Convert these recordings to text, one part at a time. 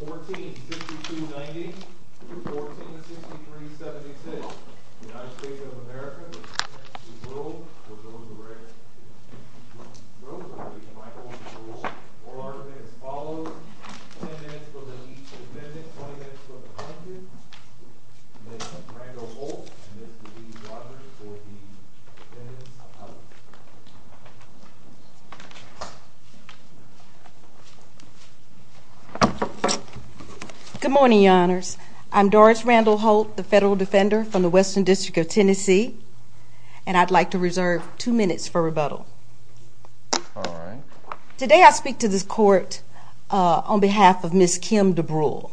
1462-90, 1463-76, United States of America v. Willow v. Rosenberg Oral argument as follows 10 minutes for the each amendment, 20 minutes for the content Ms. Randall-Holt and Mr. Lee Rogers for the defendants. Good morning, your honors. I'm Doris Randall-Holt, the federal defender from the Western District of Tennessee. And I'd like to reserve two minutes for rebuttal. Alright. Today I speak to this court on behalf of Ms. Kim Dubrule.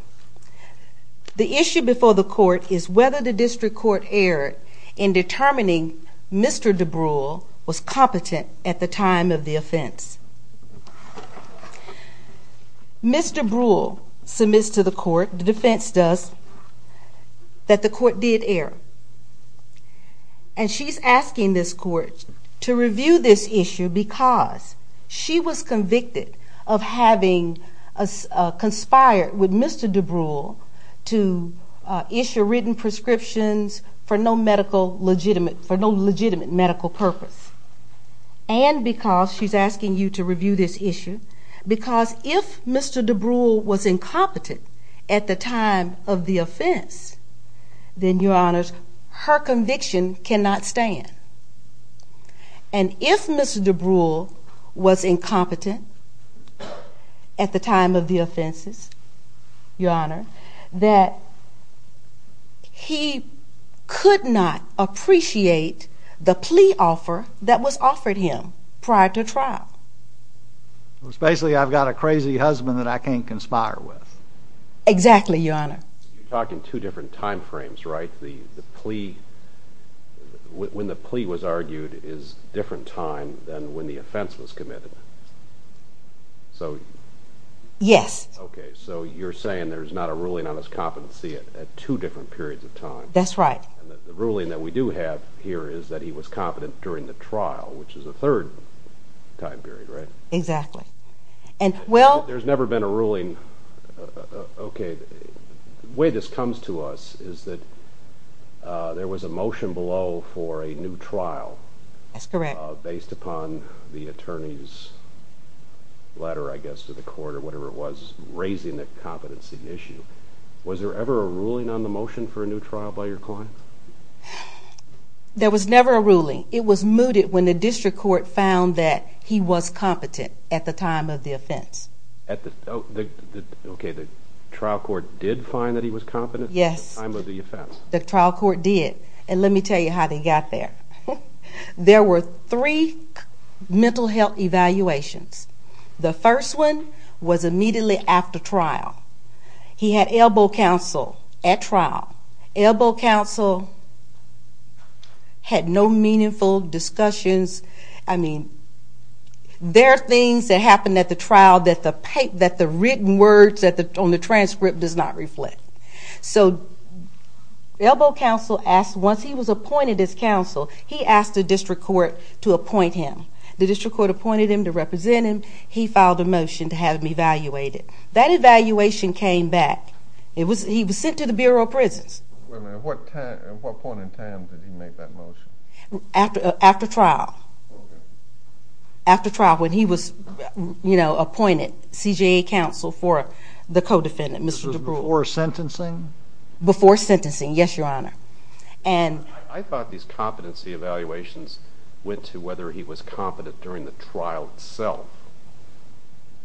The issue before the court is whether the district court erred in determining Mr. Dubrule was competent at the time of the offense. Ms. Dubrule submits to the court, the defense does, that the court did err. And she's asking this court to review this issue because she was convicted of having conspired with Mr. Dubrule to issue written prescriptions for no legitimate medical purpose. And because she's asking you to review this issue because if Mr. Dubrule was incompetent at the time of the offense then, your honors, her conviction cannot stand. And if Mr. Dubrule was incompetent at the time of the offenses, your honor, that he could not appreciate the plea offer that was offered him prior to trial. It's basically I've got a crazy husband that I can't conspire with. Exactly, your honor. You're talking two different time frames, right? When the plea was argued is a different time than when the offense was committed. Yes. Okay, so you're saying there's not a ruling on his competency at two different periods of time. That's right. The ruling that we do have here is that he was competent during the trial, which is a third time period, right? Exactly. There's never been a ruling... Okay, the way this comes to us is that there was a motion below for a new trial. That's correct. Based upon the attorney's letter, I guess, to the court or whatever it was, raising the competency issue. Was there ever a ruling on the motion for a new trial by your client? There was never a ruling. It was mooted when the district court found that he was competent at the time of the offense. Okay, the trial court did find that he was competent at the time of the offense. Yes, the trial court did. And let me tell you how they got there. There were three mental health evaluations. The first one was immediately after trial. He had elbow counsel at trial. Elbow counsel had no meaningful discussions. I mean, there are things that happen at the trial that the written words on the transcript does not reflect. So elbow counsel asked, once he was appointed as counsel, he asked the district court to appoint him. The district court appointed him to represent him. He filed a motion to have him evaluated. That evaluation came back. He was sent to the Bureau of Prisons. At what point in time did he make that motion? After trial. After trial, when he was appointed CJA counsel for the co-defendant, Mr. DeBruy. This was before sentencing? Before sentencing, yes, Your Honor. I thought these competency evaluations went to whether he was competent during the trial itself.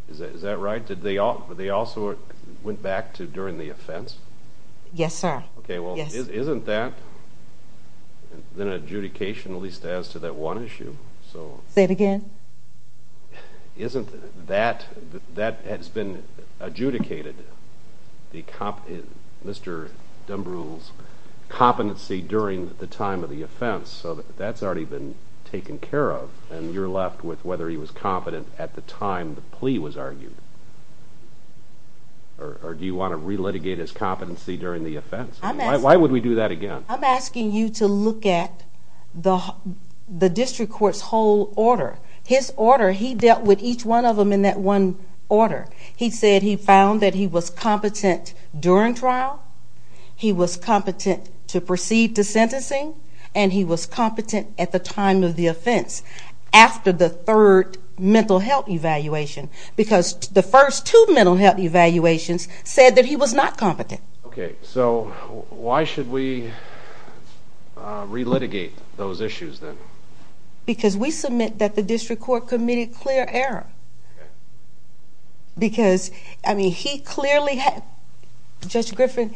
Is that right? Did they also went back to during the offense? Yes, sir. Okay, well, isn't that? Then adjudication, at least as to that one issue. Say it again. Isn't that? That has been adjudicated, Mr. DeBruy's competency during the time of the offense. So that's already been taken care of. And you're left with whether he was competent at the time the plea was argued. Or do you want to relitigate his competency during the offense? Why would we do that again? I'm asking you to look at the district court's whole order. His order, he dealt with each one of them in that one order. He said he found that he was competent during trial, he was competent to proceed to sentencing, and he was competent at the time of the offense after the third mental health evaluation because the first two mental health evaluations said that he was not competent. Okay, so why should we relitigate those issues then? Because we submit that the district court committed clear error. Okay. Because, I mean, he clearly had, Judge Griffin,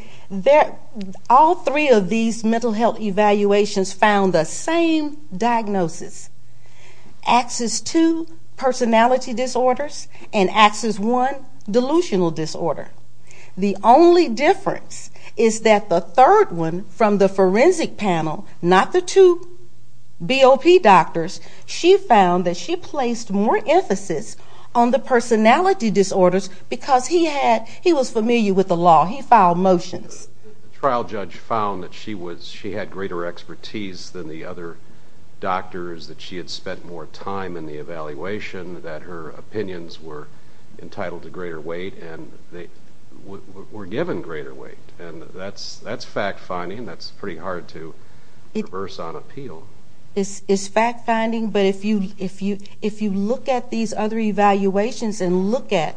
all three of these mental health evaluations found the same diagnosis. Axis 2, personality disorders, and Axis 1, delusional disorder. The only difference is that the third one from the forensic panel, not the two BOP doctors, she found that she placed more emphasis on the personality disorders because he was familiar with the law, he filed motions. The trial judge found that she had greater expertise than the other doctors, that she had spent more time in the evaluation, that her opinions were entitled to greater weight, and they were given greater weight. And that's fact-finding. That's pretty hard to reverse on appeal. It's fact-finding, but if you look at these other evaluations and look at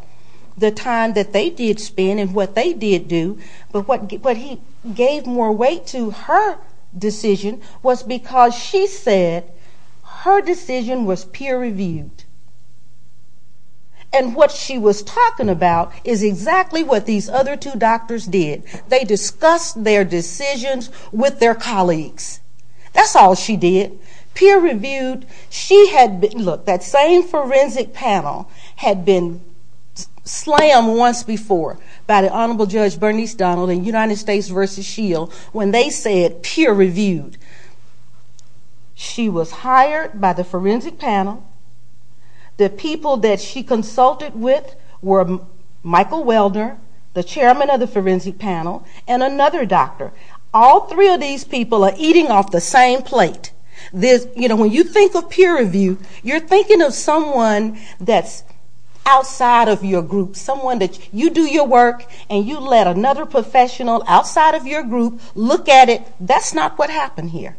the time that they did spend and what they did do, but he gave more weight to her decision was because she said her decision was peer-reviewed. And what she was talking about is exactly what these other two doctors did. They discussed their decisions with their colleagues. That's all she did. Peer-reviewed. Look, that same forensic panel had been slammed once before by the Honorable Judge Bernice Donald in United States v. Shield when they said peer-reviewed. She was hired by the forensic panel. The people that she consulted with were Michael Welder, the chairman of the forensic panel, and another doctor. All three of these people are eating off the same plate. When you think of peer-review, you're thinking of someone that's outside of your group, someone that you do your work and you let another professional outside of your group look at it. That's not what happened here.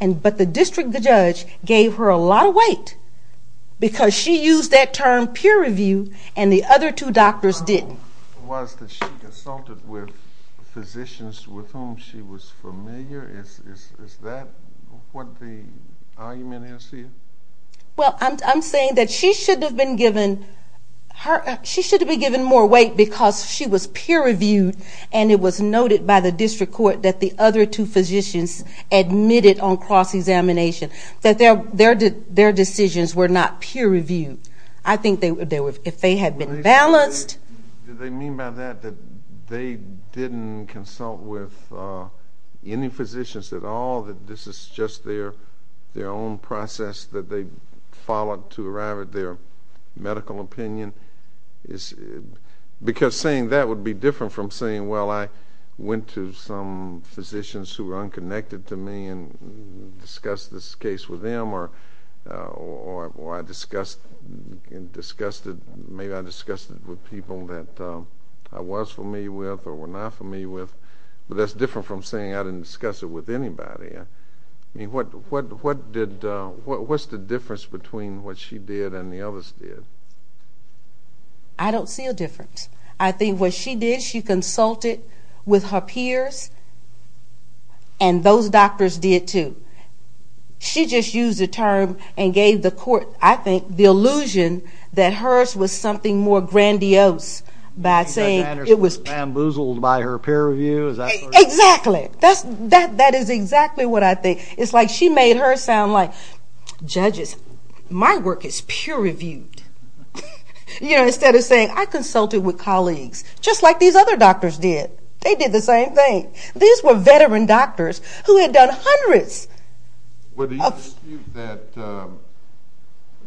But the district judge gave her a lot of weight because she used that term peer-reviewed and the other two doctors didn't. The problem was that she consulted with physicians with whom she was familiar. Is that what the argument is here? Well, I'm saying that she should have been given more weight because she was peer-reviewed and it was noted by the district court that the other two physicians admitted on cross-examination that their decisions were not peer-reviewed. I think if they had been balanced. Did they mean by that that they didn't consult with any physicians at all, that this is just their own process that they followed to arrive at their medical opinion? Because saying that would be different from saying, well, I went to some physicians who were unconnected to me and discussed this case with them or I discussed it with people that I was familiar with or were not familiar with. But that's different from saying I didn't discuss it with anybody. What's the difference between what she did and the others did? I don't see a difference. I think what she did, she consulted with her peers and those doctors did too. She just used the term and gave the court, I think, the illusion that hers was something more grandiose by saying it was peer-reviewed. Exactly. That is exactly what I think. It's like she made her sound like, judges, my work is peer-reviewed, you know, instead of saying I consulted with colleagues just like these other doctors did. They did the same thing. These were veteran doctors who had done hundreds. Would you dispute that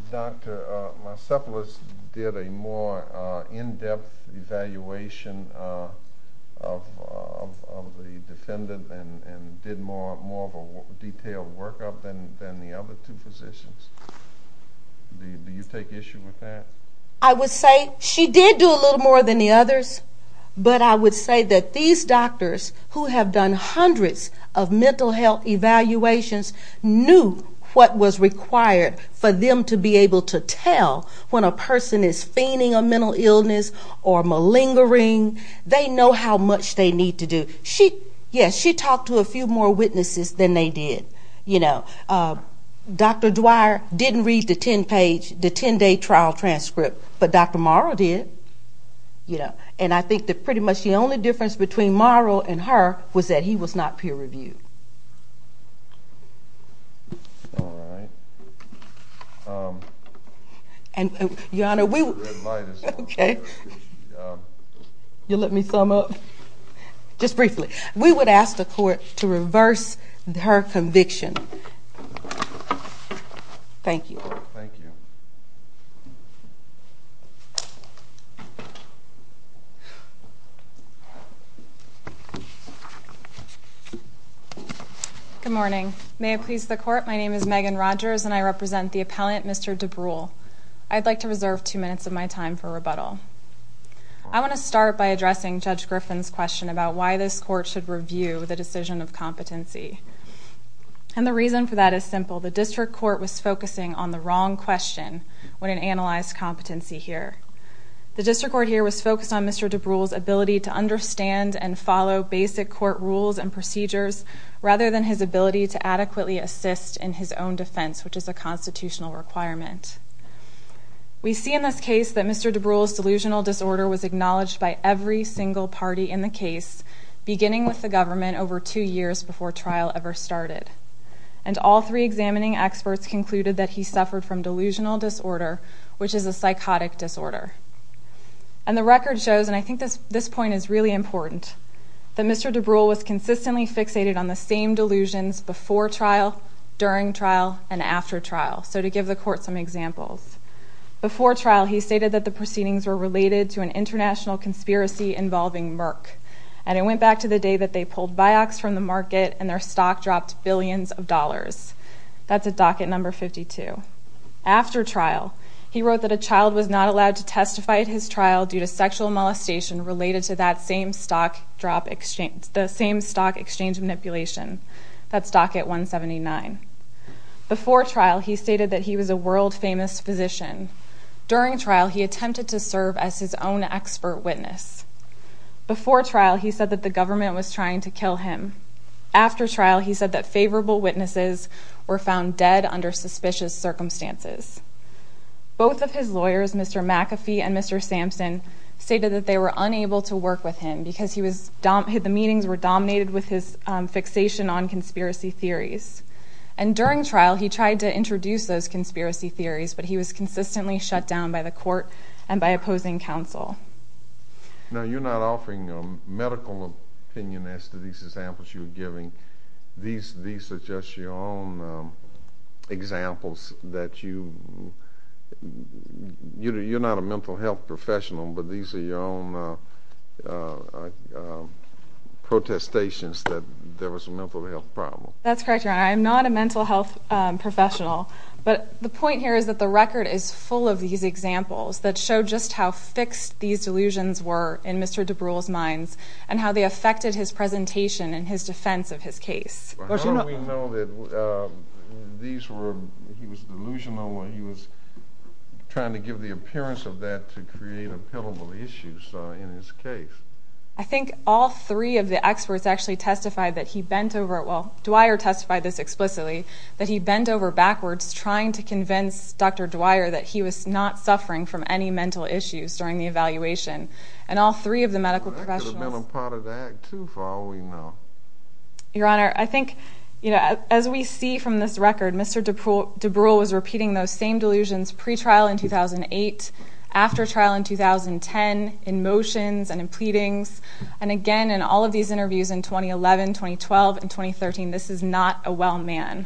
Dr. Marsepolis did a more in-depth evaluation of the defendant and did more of a detailed workup than the other two physicians? Do you take issue with that? I would say she did do a little more than the others, but I would say that these doctors who have done hundreds of mental health evaluations knew what was required for them to be able to tell when a person is feigning a mental illness or malingering. They know how much they need to do. Yes, she talked to a few more witnesses than they did. Dr. Dwyer didn't read the 10-page, the 10-day trial transcript, but Dr. Marle did, and I think that pretty much the only difference between Marle and her was that he was not peer-reviewed. All right. Your Honor, we would— The red light is on. You'll let me sum up? Just briefly. We would ask the Court to reverse her conviction. Thank you. Thank you. Good morning. May it please the Court, my name is Megan Rogers, and I represent the appellant, Mr. DeBrule. I'd like to reserve two minutes of my time for rebuttal. I want to start by addressing Judge Griffin's question about why this Court should review the decision of competency. And the reason for that is simple. The District Court was focusing on the wrong question when it analyzed competency here. The District Court here was focused on Mr. DeBrule's ability to understand and follow basic court rules and procedures rather than his ability to adequately assist in his own defense, which is a constitutional requirement. We see in this case that Mr. DeBrule's delusional disorder was acknowledged by every single party in the case, beginning with the government, over two years before trial ever started. And all three examining experts concluded that he suffered from delusional disorder, which is a psychotic disorder. And the record shows, and I think this point is really important, that Mr. DeBrule was consistently fixated on the same delusions before trial, during trial, and after trial. So to give the Court some examples. Before trial, he stated that the proceedings were related to an international conspiracy involving Merck. And it went back to the day that they pulled Vioxx from the market and their stock dropped billions of dollars. That's at docket number 52. After trial, he wrote that a child was not allowed to testify at his trial due to sexual molestation related to that same stock exchange manipulation. That's docket 179. Before trial, he stated that he was a world-famous physician. During trial, he attempted to serve as his own expert witness. Before trial, he said that the government was trying to kill him. After trial, he said that favorable witnesses were found dead under suspicious circumstances. Both of his lawyers, Mr. McAfee and Mr. Sampson, stated that they were unable to work with him because the meetings were dominated with his fixation on conspiracy theories. And during trial, he tried to introduce those conspiracy theories, but he was consistently shut down by the Court and by opposing counsel. Now, you're not offering medical opinion as to these examples you're giving. These are just your own examples that you—you're not a mental health professional, but these are your own protestations that there was a mental health problem. That's correct, Your Honor. I am not a mental health professional, but the point here is that the record is full of these examples that show just how fixed these delusions were in Mr. DeBruy's mind and how they affected his presentation and his defense of his case. How do we know that these were—he was delusional or he was trying to give the appearance of that to create a pillable issue in his case? I think all three of the experts actually testified that he bent over it. Well, Dwyer testified this explicitly, that he bent over backwards trying to convince Dr. Dwyer that he was not suffering from any mental issues during the evaluation. And all three of the medical professionals— Well, that could have been a part of the act, too, for all we know. Your Honor, I think, you know, as we see from this record, Mr. DeBruy was repeating those same delusions pre-trial in 2008, after trial in 2010, in motions and in pleadings, and again, in all of these interviews in 2011, 2012, and 2013, this is not a well man.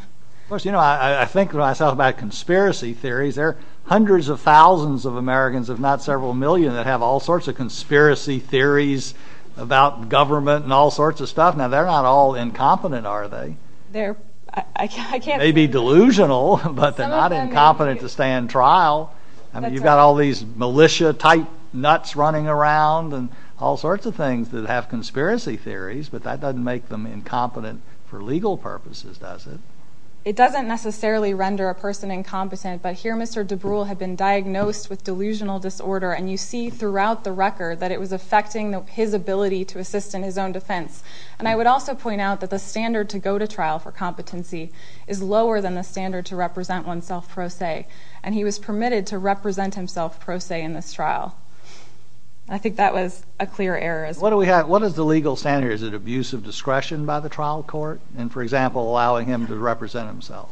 Of course, you know, I think when I talk about conspiracy theories, there are hundreds of thousands of Americans, if not several million, that have all sorts of conspiracy theories about government and all sorts of stuff. Now, they're not all incompetent, are they? They're—I can't— They may be delusional, but they're not incompetent to stand trial. I mean, you've got all these militia-type nuts running around and all sorts of things that have conspiracy theories, but that doesn't make them incompetent for legal purposes, does it? It doesn't necessarily render a person incompetent, but here Mr. DeBruy had been diagnosed with delusional disorder, and you see throughout the record that it was affecting his ability to assist in his own defense. And I would also point out that the standard to go to trial for competency is lower than the standard to represent oneself pro se, and he was permitted to represent himself pro se in this trial. I think that was a clear error as well. What is the legal standard here? Is it abuse of discretion by the trial court in, for example, allowing him to represent himself?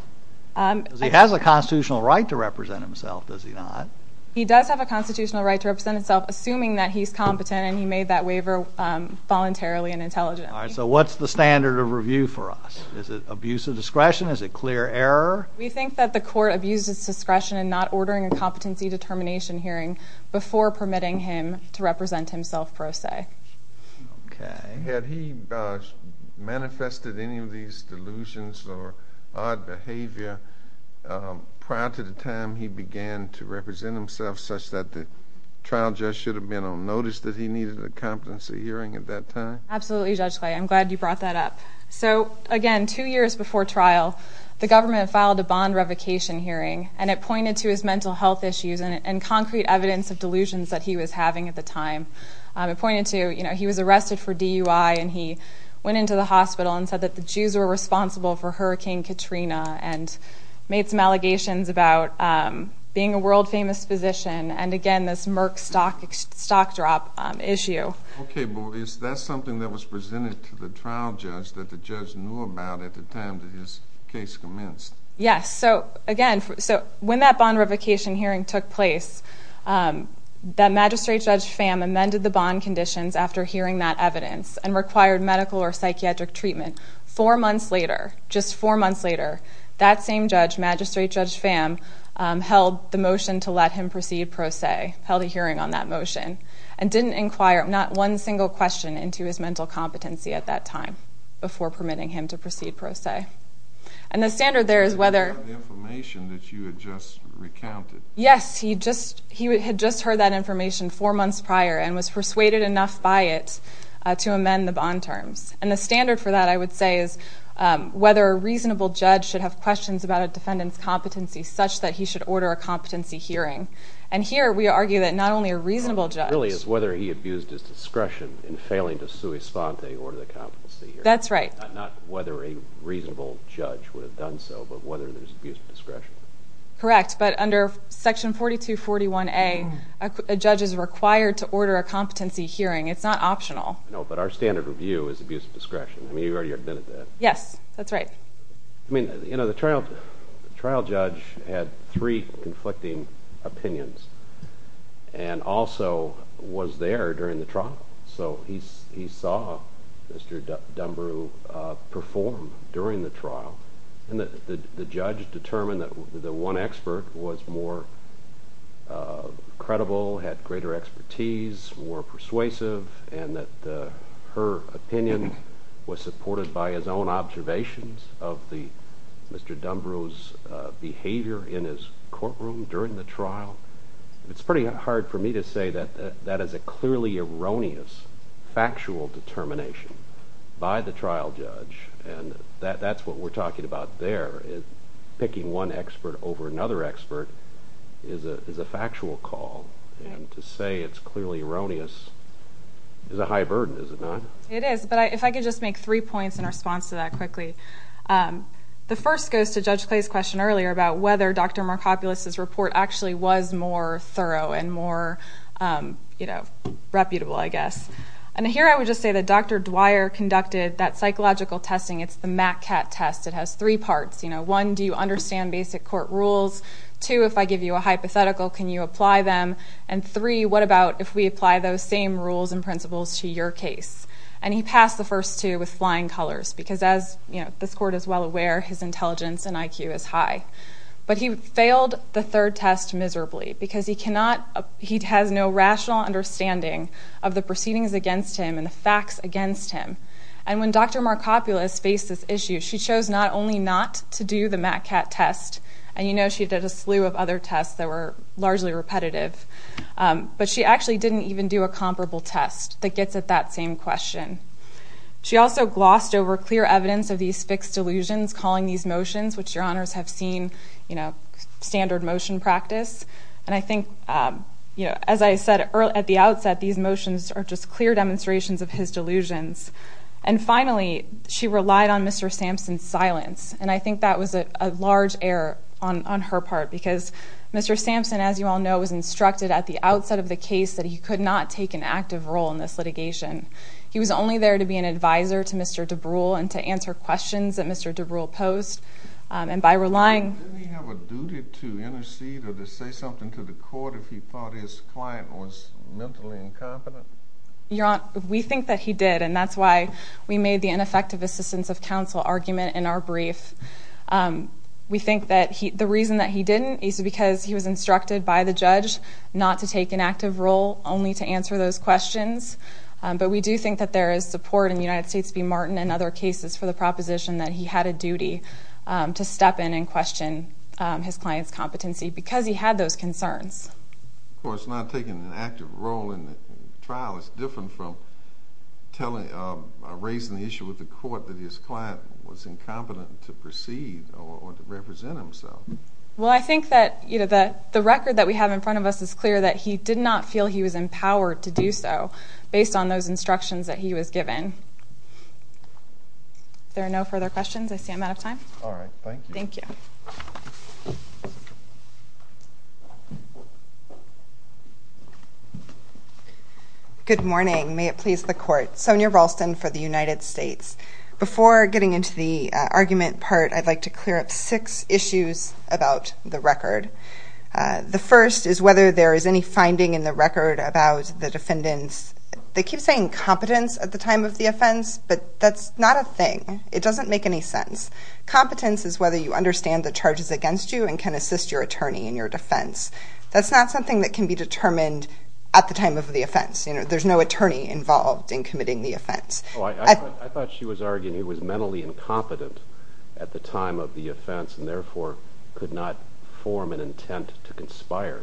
He has a constitutional right to represent himself, does he not? He does have a constitutional right to represent himself, assuming that he's competent and he made that waiver voluntarily and intelligently. All right, so what's the standard of review for us? Is it abuse of discretion? Is it clear error? We think that the court abused its discretion in not ordering a competency determination hearing before permitting him to represent himself pro se. Had he manifested any of these delusions or odd behavior prior to the time he began to represent himself such that the trial judge should have been on notice that he needed a competency hearing at that time? Absolutely, Judge Clay. I'm glad you brought that up. So, again, two years before trial, the government filed a bond revocation hearing, and it pointed to his mental health issues and concrete evidence of delusions that he was having at the time. It pointed to, you know, he was arrested for DUI and he went into the hospital and said that the Jews were responsible for Hurricane Katrina and made some allegations about being a world-famous physician and, again, this Merck stock drop issue. Okay, but is that something that was presented to the trial judge that the judge knew about at the time that his case commenced? Yes. So, again, when that bond revocation hearing took place, that magistrate Judge Pham amended the bond conditions after hearing that evidence and required medical or psychiatric treatment. Four months later, just four months later, that same judge, magistrate Judge Pham, held the motion to let him proceed pro se, held a hearing on that motion, and didn't inquire not one single question into his mental competency at that time before permitting him to proceed pro se. Okay. And the standard there is whether... Did he have the information that you had just recounted? Yes. He had just heard that information four months prior and was persuaded enough by it to amend the bond terms. And the standard for that, I would say, is whether a reasonable judge should have questions about a defendant's competency such that he should order a competency hearing. And here we argue that not only a reasonable judge... It really is whether he abused his discretion in failing to sui sponte, order the competency hearing. That's right. Not whether a reasonable judge would have done so, but whether there's abuse of discretion. Correct, but under Section 4241A, a judge is required to order a competency hearing. It's not optional. No, but our standard review is abuse of discretion. I mean, you've already admitted that. Yes, that's right. I mean, you know, the trial judge had three conflicting opinions and also was there during the trial, so he saw Mr. Dunbaru perform during the trial. And the judge determined that the one expert was more credible, had greater expertise, more persuasive, and that her opinion was supported by his own observations of Mr. Dunbaru's behavior in his courtroom during the trial. It's pretty hard for me to say that that is a clearly erroneous, factual determination by the trial judge, and that's what we're talking about there. Picking one expert over another expert is a factual call, and to say it's clearly erroneous is a high burden, is it not? It is, but if I could just make three points in response to that quickly. The first goes to Judge Clay's question earlier about whether Dr. Markopoulos' report actually was more thorough and more, you know, reputable, I guess. And here I would just say that Dr. Dwyer conducted that psychological testing. It's the MATCAT test. It has three parts. One, do you understand basic court rules? Two, if I give you a hypothetical, can you apply them? And three, what about if we apply those same rules and principles to your case? And he passed the first two with flying colors because, as this court is well aware, his intelligence and IQ is high. But he failed the third test miserably because he has no rational understanding of the proceedings against him and the facts against him. And when Dr. Markopoulos faced this issue, she chose not only not to do the MATCAT test, and you know she did a slew of other tests that were largely repetitive, but she actually didn't even do a comparable test that gets at that same question. She also glossed over clear evidence of these fixed delusions, calling these motions, which your honors have seen, you know, standard motion practice. And I think, you know, as I said at the outset, these motions are just clear demonstrations of his delusions. And finally, she relied on Mr. Sampson's silence, and I think that was a large error on her part because Mr. Sampson, as you all know, was instructed at the outset of the case that he could not take an active role in this litigation. He was only there to be an advisor to Mr. DeBrule and to answer questions that Mr. DeBrule posed. And by relying... Didn't he have a duty to intercede or to say something to the court if he thought his client was mentally incompetent? Your Honor, we think that he did, and that's why we made the ineffective assistance of counsel argument in our brief. We think that the reason that he didn't is because he was instructed by the judge not to take an active role, only to answer those questions. But we do think that there is support in the United States v. Martin and other cases for the proposition that he had a duty to step in and question his client's competency because he had those concerns. Of course, not taking an active role in the trial is different from raising the issue with the court that his client was incompetent to proceed or to represent himself. Well, I think that the record that we have in front of us is clear that he did not feel he was empowered to do so. Based on those instructions that he was given. If there are no further questions, I see I'm out of time. All right. Thank you. Thank you. Good morning. May it please the Court. Sonia Ralston for the United States. Before getting into the argument part, I'd like to clear up six issues about the record. The first is whether there is any finding in the record about the defendants. They keep saying competence at the time of the offense, but that's not a thing. It doesn't make any sense. Competence is whether you understand the charges against you and can assist your attorney in your defense. That's not something that can be determined at the time of the offense. There's no attorney involved in committing the offense. I thought she was arguing he was mentally incompetent at the time of the offense and therefore could not form an intent to conspire.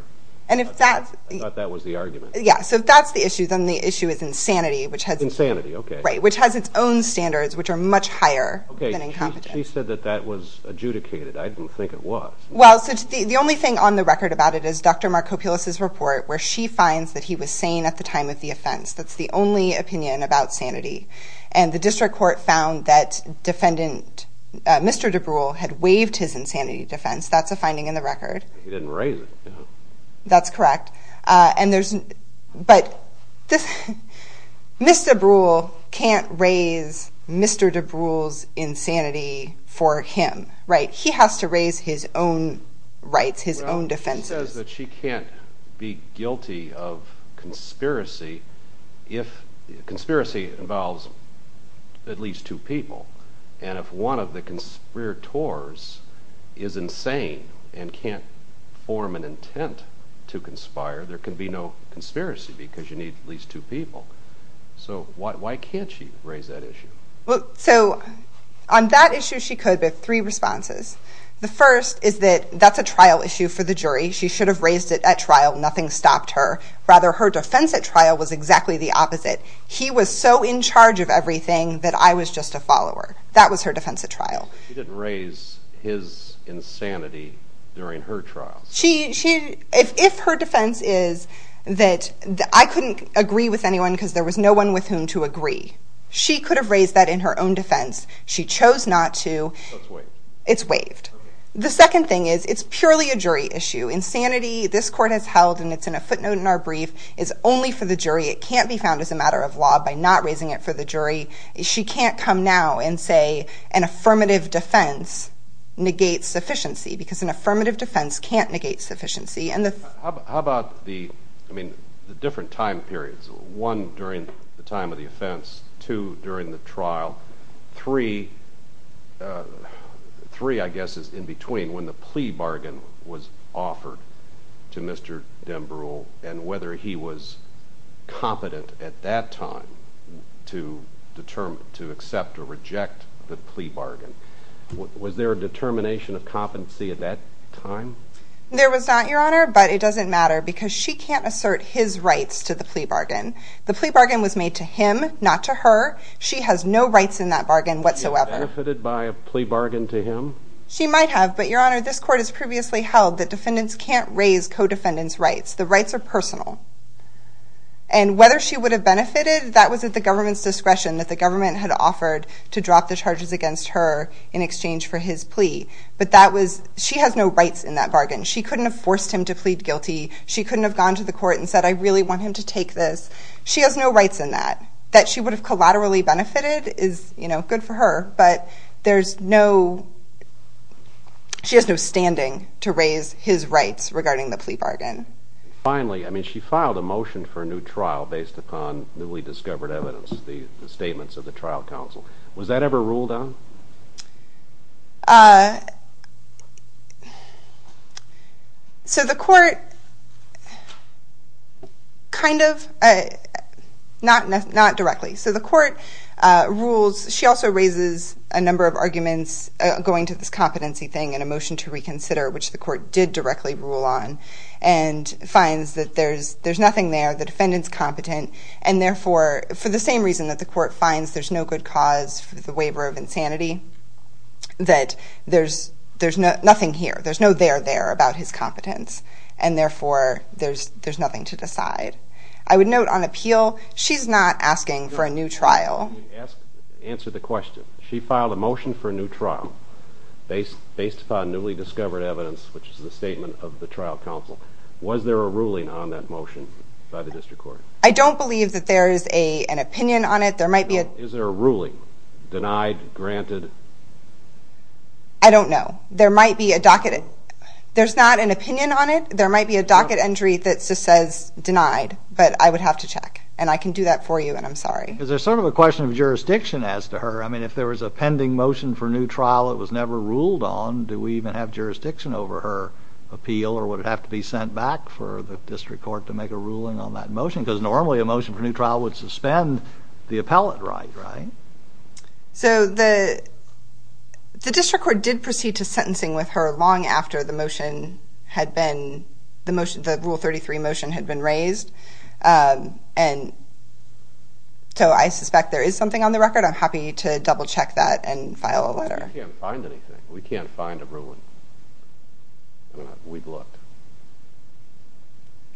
I thought that was the argument. Yeah, so that's the issue. Then the issue is insanity, which has its own standards, which are much higher than incompetence. She said that that was adjudicated. I didn't think it was. Well, the only thing on the record about it is Dr. Markopoulos' report, where she finds that he was sane at the time of the offense. That's the only opinion about sanity. And the District Court found that Mr. DeBrule had waived his insanity defense. That's a finding in the record. He didn't raise it. That's correct. But Mr. DeBrule can't raise Mr. DeBrule's insanity for him. He has to raise his own rights, his own defenses. She says that she can't be guilty of conspiracy if conspiracy involves at least two people and if one of the conspirators is insane and can't form an intent to conspire, there could be no conspiracy because you need at least two people. So why can't she raise that issue? So on that issue, she could, but three responses. The first is that that's a trial issue for the jury. She should have raised it at trial. Nothing stopped her. Rather, her defense at trial was exactly the opposite. He was so in charge of everything that I was just a follower. That was her defense at trial. She didn't raise his insanity during her trial. If her defense is that I couldn't agree with anyone because there was no one with whom to agree, she could have raised that in her own defense. She chose not to. It's waived. It's waived. The second thing is it's purely a jury issue. Insanity, this court has held, and it's in a footnote in our brief, is only for the jury. It can't be found as a matter of law by not raising it for the jury. She can't come now and say an affirmative defense negates sufficiency because an affirmative defense can't negate sufficiency. How about the different time periods? One, during the time of the offense. Two, during the trial. Three, I guess, is in between when the plea bargain was offered to Mr. Dembrow and whether he was competent at that time to accept or reject the plea bargain. Was there a determination of competency at that time? There was not, Your Honor, but it doesn't matter because she can't assert his rights to the plea bargain. The plea bargain was made to him, not to her. She has no rights in that bargain whatsoever. Did she get benefited by a plea bargain to him? She might have, but, Your Honor, this court has previously held that defendants can't raise co-defendants' rights. The rights are personal. And whether she would have benefited, that was at the government's discretion that the government had offered to drop the charges against her in exchange for his plea. But that was, she has no rights in that bargain. She couldn't have forced him to plead guilty. She couldn't have gone to the court and said, I really want him to take this. She has no rights in that. That she would have collaterally benefited is, you know, good for her, but there's no, she has no standing to raise his rights regarding the plea bargain. Finally, I mean, she filed a motion for a new trial based upon newly discovered evidence, the statements of the trial counsel. Was that ever ruled on? So the court kind of, not directly. So the court rules, she also raises a number of arguments going to this competency thing and a motion to reconsider, which the court did directly rule on, and finds that there's nothing there, the defendant's competent, and therefore, for the same reason that the court finds there's no good cause for the waiver of insanity, that there's nothing here. There's no there there about his competence. And therefore, there's nothing to decide. I would note on appeal, she's not asking for a new trial. Answer the question. She filed a motion for a new trial based upon newly discovered evidence, which is the statement of the trial counsel. Was there a ruling on that motion by the district court? I don't believe that there is an opinion on it. Is there a ruling? Denied? Granted? I don't know. There might be a docket. There's not an opinion on it. There might be a docket entry that just says denied. But I would have to check. And I can do that for you, and I'm sorry. Is there sort of a question of jurisdiction as to her? I mean, if there was a pending motion for a new trial that was never ruled on, do we even have jurisdiction over her appeal or would it have to be sent back for the district court to make a ruling on that motion? Because normally a motion for a new trial would suspend the appellate right, right? So the district court did proceed to sentencing with her long after the rule 33 motion had been raised. And so I suspect there is something on the record. I'm happy to double-check that and file a letter. We can't find anything. We can't find a ruling. We'd look.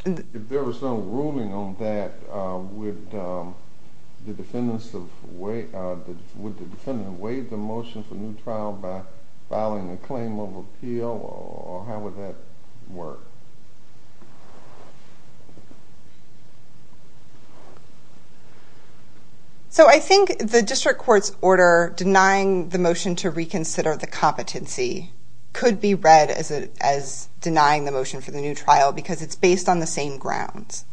If there was no ruling on that, would the defendant waive the motion for a new trial by filing a claim of appeal, or how would that work? So I think the district court's order denying the motion to reconsider the competency could be read as denying the motion for the new trial because it's based on the same grounds.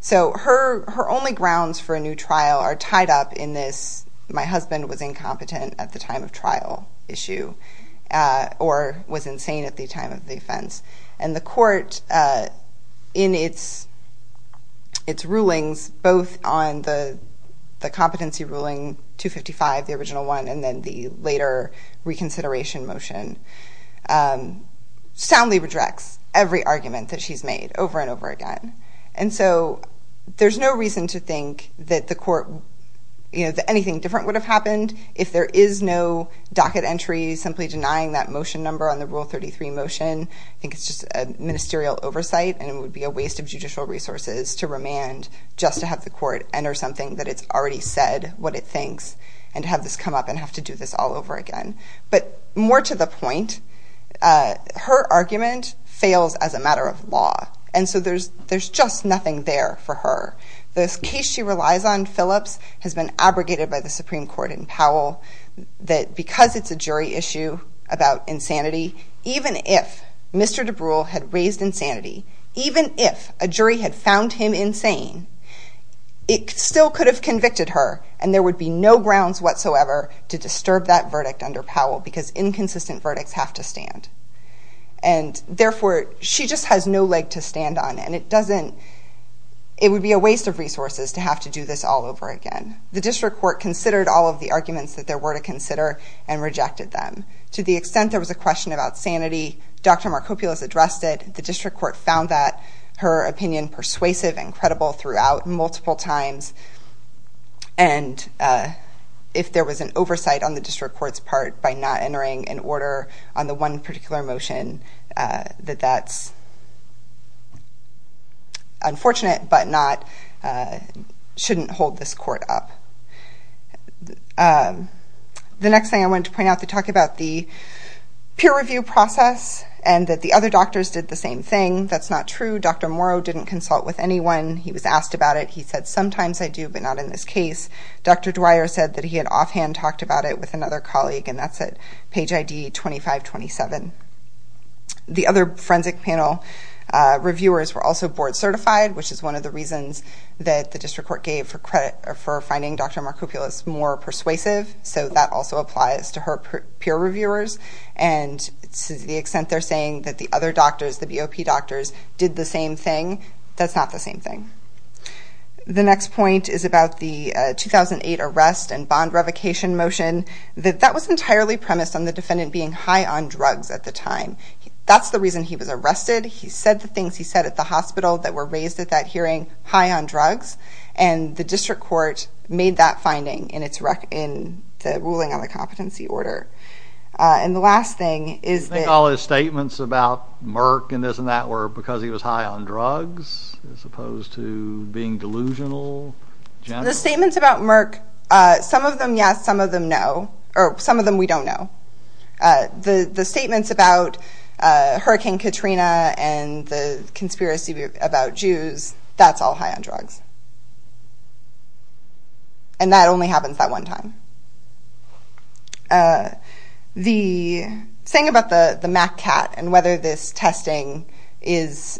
So her only grounds for a new trial are tied up in this my husband was incompetent at the time of trial issue or was insane at the time of the offense. And the court, in its rulings, both on the competency ruling 255, the original one, and then the later reconsideration motion, soundly redirects every argument that she's made over and over again. And so there's no reason to think that the court, that anything different would have happened if there is no docket entry simply denying that motion number on the rule 33 motion. I think it's just a ministerial oversight and it would be a waste of judicial resources to remand just to have the court enter something that it's already said what it thinks and have this come up and have to do this all over again. But more to the point, her argument fails as a matter of law. And so there's just nothing there for her. The case she relies on, Phillips, has been abrogated by the Supreme Court in Powell that because it's a jury issue about insanity, even if Mr. DeBruyle had raised insanity, even if a jury had found him insane, it still could have convicted her and there would be no grounds whatsoever to disturb that verdict under Powell because inconsistent verdicts have to stand. And therefore, she just has no leg to stand on and it doesn't, it would be a waste of resources to have to do this all over again. The district court considered all of the arguments that there were to consider and rejected them. To the extent there was a question about sanity, Dr. Markopulos addressed it, the district court found that, her opinion persuasive and credible throughout multiple times. And if there was an oversight on the district court's part by not entering an order on the one particular motion, that that's unfortunate, but shouldn't hold this court up. The next thing I wanted to point out, to talk about the peer review process and that the other doctors did the same thing. That's not true. Dr. Morrow didn't consult with anyone. He was asked about it. He said, sometimes I do, but not in this case. Dr. Dwyer said that he had offhand talked about it with another colleague and that's at page ID 2527. The other forensic panel reviewers were also board certified, which is one of the reasons that the district court gave for finding Dr. Markopulos more persuasive. So that also applies to her peer reviewers. And to the extent they're saying that the other doctors, the BOP doctors did the same thing, that's not the same thing. The next point is about the 2008 arrest and bond revocation motion. That was entirely premised on the defendant being high on drugs at the time. That's the reason he was arrested. He said the things he said at the hospital that were raised at that hearing, high on drugs. And the district court made that finding in the ruling on the competency order. And the last thing is that... You think all his statements about Merck and this and that were because he was high on drugs as opposed to being delusional? The statements about Merck, some of them yes, some of them no. Or some of them we don't know. The statements about Hurricane Katrina and the conspiracy about Jews, that's all high on drugs. And that only happens that one time. The thing about the MACCAT and whether this testing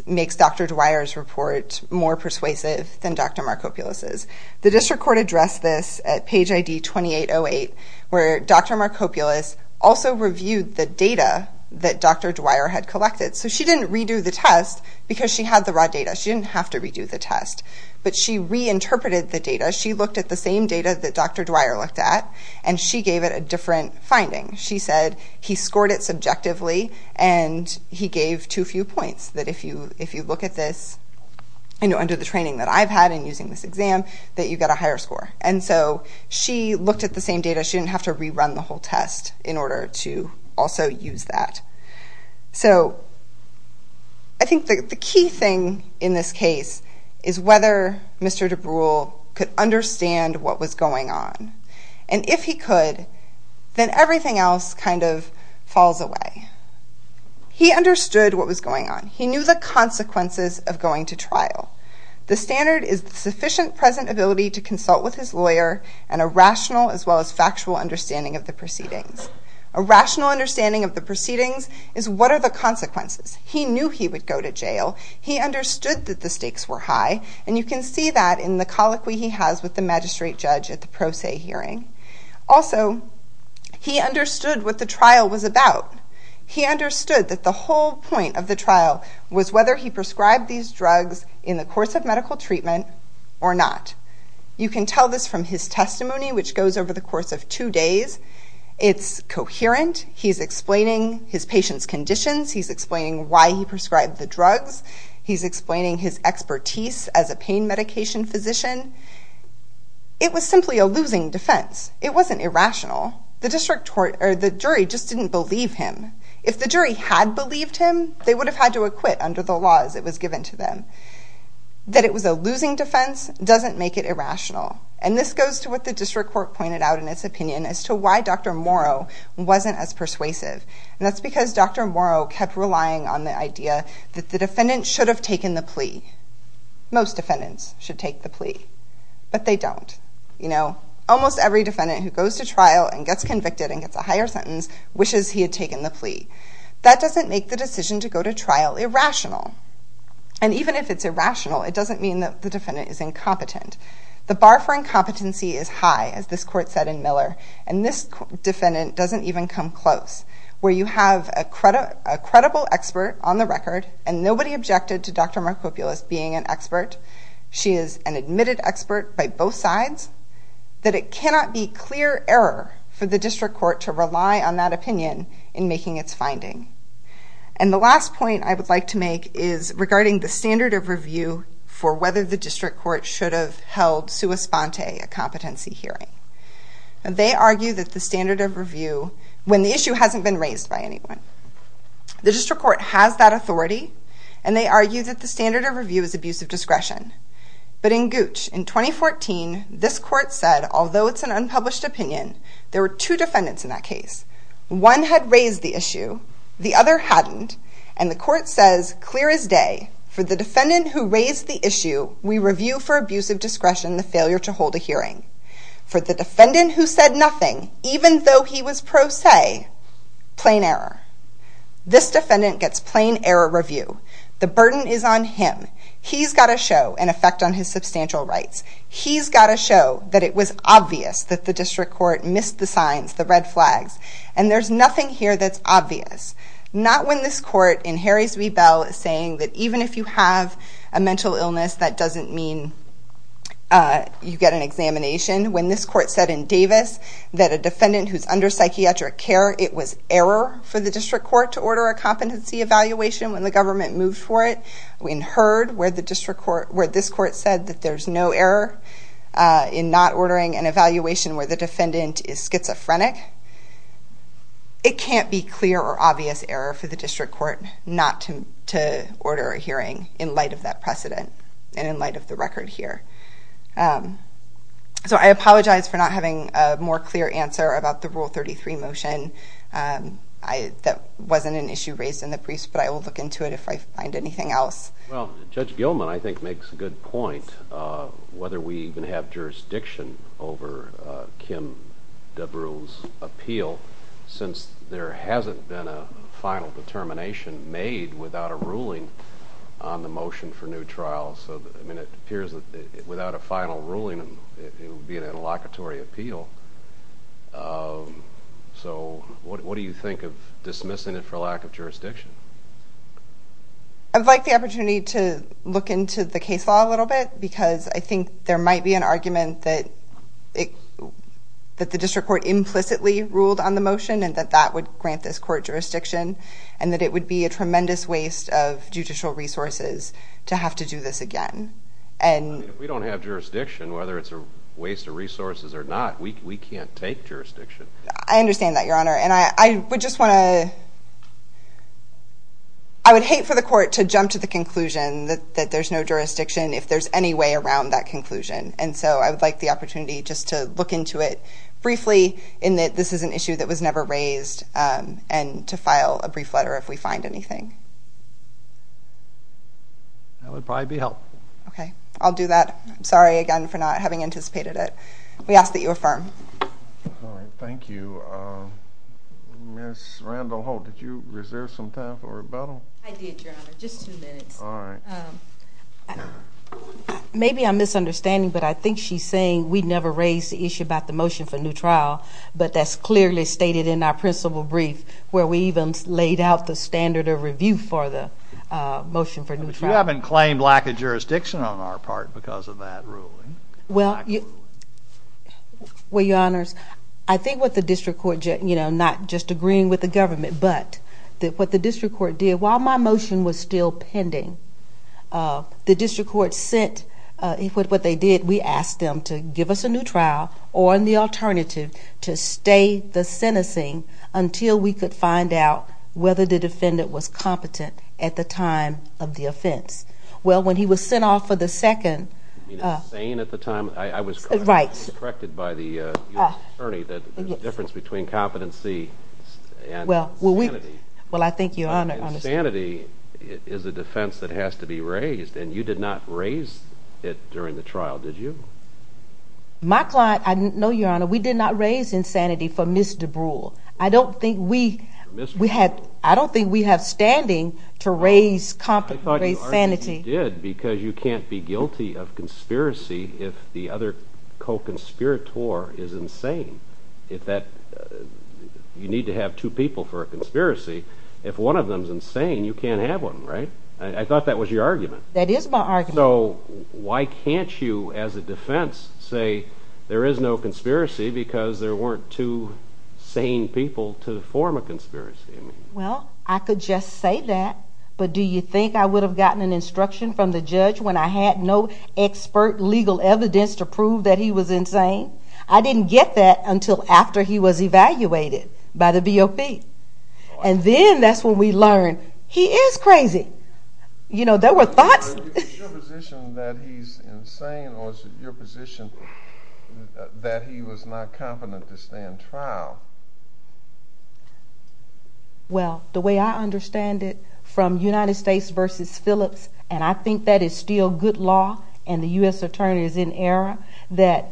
makes Dr. Dwyer's report more persuasive than Dr. Markopulos's. The district court addressed this at page ID 2808 where Dr. Markopulos also reviewed the data that Dr. Dwyer had collected. So she didn't redo the test because she had the raw data. She didn't have to redo the test. But she reinterpreted the data. She looked at the same data that Dr. Dwyer looked at and she gave it a different finding. She said he scored it subjectively and he gave too few points. That if you look at this, under the training that I've had in using this exam, that you get a higher score. And so she looked at the same data. She didn't have to rerun the whole test in order to also use that. So I think the key thing in this case is whether Mr. DeBrewel could understand what was going on. And if he could, then everything else kind of falls away. He understood what was going on. He knew the consequences of going to trial. The standard is the sufficient present ability to consult with his lawyer and a rational as well as factual understanding of the proceedings. A rational understanding of the proceedings is what are the consequences. He knew he would go to jail. He understood that the stakes were high. And you can see that in the colloquy he has with the magistrate judge at the pro se hearing. Also, he understood what the trial was about. He understood that the whole point of the trial was whether he prescribed these drugs in the course of medical treatment or not. You can tell this from his testimony, which goes over the course of two days. It's coherent. He's explaining his patient's conditions. He's explaining why he prescribed the drugs. He's explaining his expertise as a pain medication physician. It was simply a losing defense. It wasn't irrational. The jury just didn't believe him. If the jury had believed him, they would have had to acquit under the laws that was given to them. That it was a losing defense doesn't make it irrational. And this goes to what the district court pointed out in its opinion as to why Dr. Morrow wasn't as persuasive. And that's because Dr. Morrow kept relying on the idea that the defendant should have taken the plea. Most defendants should take the plea. But they don't. Almost every defendant who goes to trial and gets convicted and gets a higher sentence wishes he had taken the plea. That doesn't make the decision to go to trial irrational. And even if it's irrational, it doesn't mean that the defendant is incompetent. The bar for incompetency is high, as this court said in Miller. And this defendant doesn't even come close. where you have a credible expert on the record, and nobody objected to Dr. Markopoulos being an expert. She is an admitted expert by both sides. That it cannot be clear error for the district court to rely on that opinion in making its finding. And the last point I would like to make is regarding the standard of review for whether the district court should have held sua sponte, a competency hearing. They argue that the standard of review, when the issue hasn't been raised by anyone. The district court has that authority, and they argue that the standard of review is abuse of discretion. But in Gooch, in 2014, this court said, although it's an unpublished opinion, there were two defendants in that case. One had raised the issue. The other hadn't. And the court says, clear as day, for the defendant who raised the issue, we review for abuse of discretion the failure to hold a hearing. For the defendant who said nothing, even though he was pro se. Plain error. This defendant gets plain error review. The burden is on him. He's got to show an effect on his substantial rights. He's got to show that it was obvious that the district court missed the signs, the red flags. And there's nothing here that's obvious. Not when this court, in Harry's Rebell, is saying that even if you have a mental illness, that doesn't mean you get an examination. When this court said in Davis that a defendant who's under psychiatric care, it was error for the district court to order a competency evaluation when the government moved for it. In Heard, where this court said that there's no error in not ordering an evaluation where the defendant is schizophrenic. It can't be clear or obvious error for the district court not to order a hearing in light of that precedent and in light of the record here. So I apologize for not having a more clear answer about the Rule 33 motion. That wasn't an issue raised in the briefs, but I will look into it if I find anything else. Well, Judge Gilman, I think, makes a good point whether we even have jurisdiction over Kim Dabroul's appeal since there hasn't been a final determination made without a ruling on the motion for new trial. So, I mean, it appears that without a final ruling, it would be an interlocutory appeal. So what do you think of dismissing it for lack of jurisdiction? I'd like the opportunity to look into the case law a little bit because I think there might be an argument that the district court implicitly ruled on the motion and that that would grant this court jurisdiction and that it would be a tremendous waste of judicial resources to have to do this again. I mean, if we don't have jurisdiction, whether it's a waste of resources or not, we can't take jurisdiction. I understand that, Your Honor. And I would just want to... I would hate for the court to jump to the conclusion that there's no jurisdiction if there's any way around that conclusion. And so I would like the opportunity just to look into it briefly in that this is an issue that was never raised and to file a brief letter if we find anything. That would probably be helpful. Okay, I'll do that. I'm sorry again for not having anticipated it. We ask that you affirm. All right, thank you. Ms. Randall-Holt, did you reserve some time for rebuttal? I did, Your Honor, just two minutes. All right. Maybe I'm misunderstanding, but I think she's saying we never raised the issue about the motion for a new trial, but that's clearly stated in our principal brief where we even laid out the standard of review for the motion for a new trial. But you haven't claimed lack of jurisdiction on our part because of that ruling. Well, Your Honors, I think what the district court... you know, not just agreeing with the government, but what the district court did, while my motion was still pending, the district court sent... what they did, we asked them to give us a new trial or the alternative to stay the sentencing until we could find out whether the defendant was competent at the time of the offense. Well, when he was sent off for the second... You mean insane at the time? Right. I was corrected by the attorney that there's a difference between competency and sanity. Well, I think Your Honor... And sanity is a defense that has to be raised, and you did not raise it during the trial, did you? My client... No, Your Honor, we did not raise insanity for Ms. DeBrule. I don't think we had... I don't think we have standing to raise sanity. I thought you did because you can't be guilty of conspiracy if the other co-conspirator is insane. If that... You need to have two people for a conspiracy. If one of them's insane, you can't have one, right? I thought that was your argument. That is my argument. So why can't you, as a defense, say there is no conspiracy because there weren't two sane people to form a conspiracy? Well, I could just say that, but do you think I would have gotten an instruction from the judge when I had no expert legal evidence to prove that he was insane? I didn't get that until after he was evaluated by the BOP. And then that's when we learned he is crazy. You know, there were thoughts... Is your position that he's insane or is it your position that he was not competent to stand trial? Well, the way I understand it, from United States v. Phillips, and I think that is still good law and the U.S. attorney is in error, that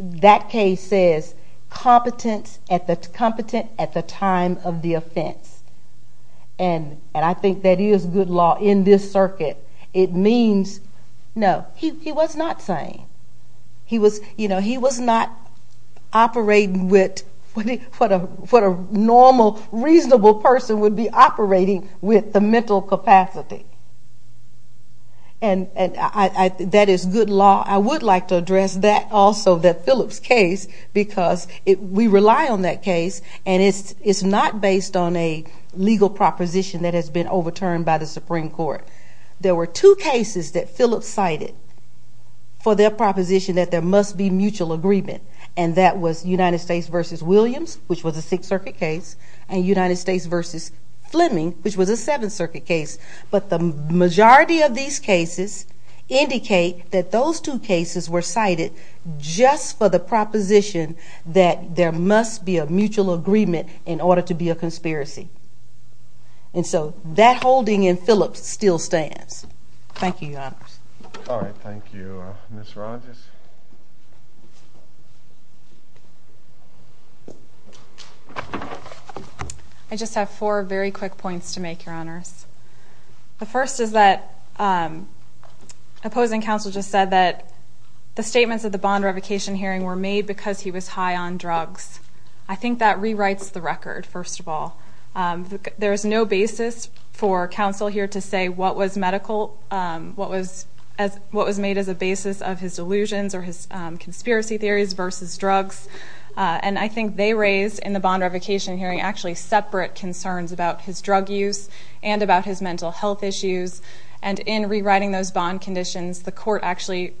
that case says competent at the time of the offense. And I think that is good law in this circuit. It means, no, he was not sane. He was not operating with what a normal, reasonable person would be operating with the mental capacity. And that is good law. I would like to address that also, that Phillips case, because we rely on that case. And it's not based on a legal proposition that has been overturned by the Supreme Court. There were two cases that Phillips cited for their proposition that there must be mutual agreement, and that was United States v. Williams, which was a Sixth Circuit case, and United States v. Fleming, which was a Seventh Circuit case. But the majority of these cases indicate that those two cases were cited just for the proposition that there must be a mutual agreement in order to be a conspiracy. And so that holding in Phillips still stands. Thank you, Your Honors. All right, thank you. Ms. Rogers? I just have four very quick points to make, Your Honors. The first is that opposing counsel just said that the statements of the bond revocation hearing were made because he was high on drugs. I think that rewrites the record, first of all. There is no basis for counsel here to say what was medical, what was made as a basis of his delusions or his conspiracy theories versus drugs. And I think they raised in the bond revocation hearing actually separate concerns about his drug use and about his mental health issues. And in rewriting those bond conditions, the court actually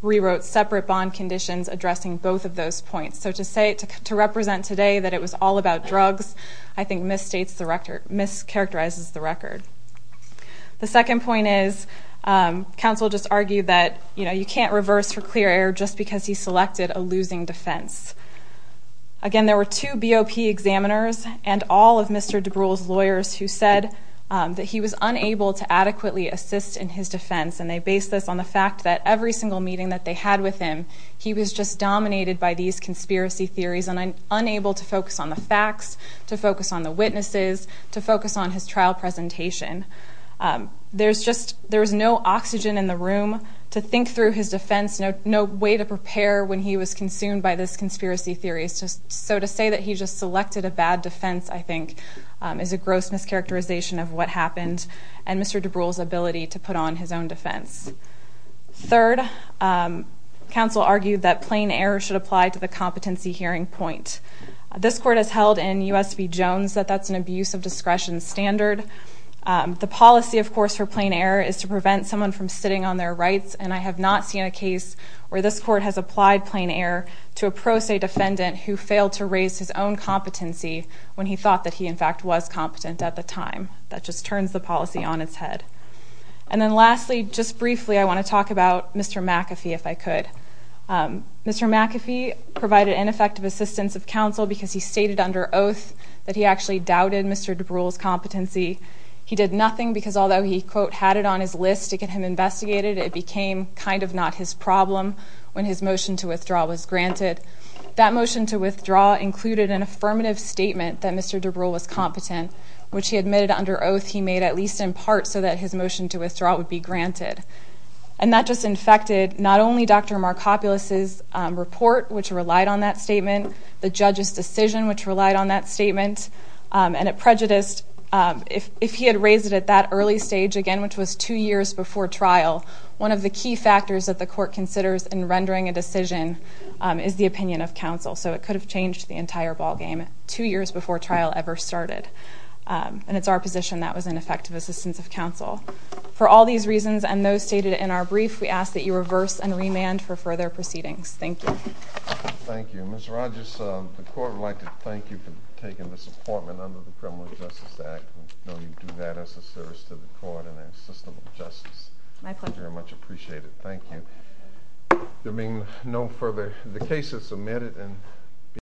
rewrote separate bond conditions addressing both of those points. So to represent today that it was all about drugs, I think mischaracterizes the record. The second point is counsel just argued that you can't reverse for clear error just because he selected a losing defense. Again, there were two BOP examiners and all of Mr. DeBruhl's lawyers who said that he was unable to adequately assist in his defense, and they based this on the fact that every single meeting that they had with him, he was just dominated by these conspiracy theories and unable to focus on the facts, to focus on the witnesses, to focus on his trial presentation. There's no oxygen in the room to think through his defense, no way to prepare when he was consumed by this conspiracy theory. So to say that he just selected a bad defense, I think, is a gross mischaracterization of what happened and Mr. DeBruhl's ability to put on his own defense. Third, counsel argued that plain error should apply to the competency hearing point. This court has held in U.S. v. Jones that that's an abuse of discretion standard. The policy, of course, for plain error is to prevent someone from sitting on their rights, and I have not seen a case where this court has applied plain error to a pro se defendant who failed to raise his own competency when he thought that he, in fact, was competent at the time. That just turns the policy on its head. And then lastly, just briefly, I want to talk about Mr. McAfee, if I could. Mr. McAfee provided ineffective assistance of counsel because he stated under oath that he actually doubted Mr. DeBruhl's competency. He did nothing because although he, quote, had it on his list to get him investigated, it became kind of not his problem when his motion to withdraw was granted. That motion to withdraw included an affirmative statement that Mr. DeBruhl was competent, which he admitted under oath he made at least in part so that his motion to withdraw would be granted. And that just infected not only Dr. Markopulos's report, which relied on that statement, the judge's decision, which relied on that statement, and it prejudiced. If he had raised it at that early stage again, which was two years before trial, one of the key factors that the court considers in rendering a decision is the opinion of counsel. So it could have changed the entire ballgame two years before trial ever started. And it's our position that was ineffective assistance of counsel. For all these reasons and those stated in our brief, we ask that you reverse and remand for further proceedings. Thank you. Thank you. Ms. Rogers, the court would like to thank you for taking this appointment under the Criminal Justice Act. We know you do that as a service to the court and a system of justice. My pleasure. We very much appreciate it. Thank you. There being no further, the case is submitted.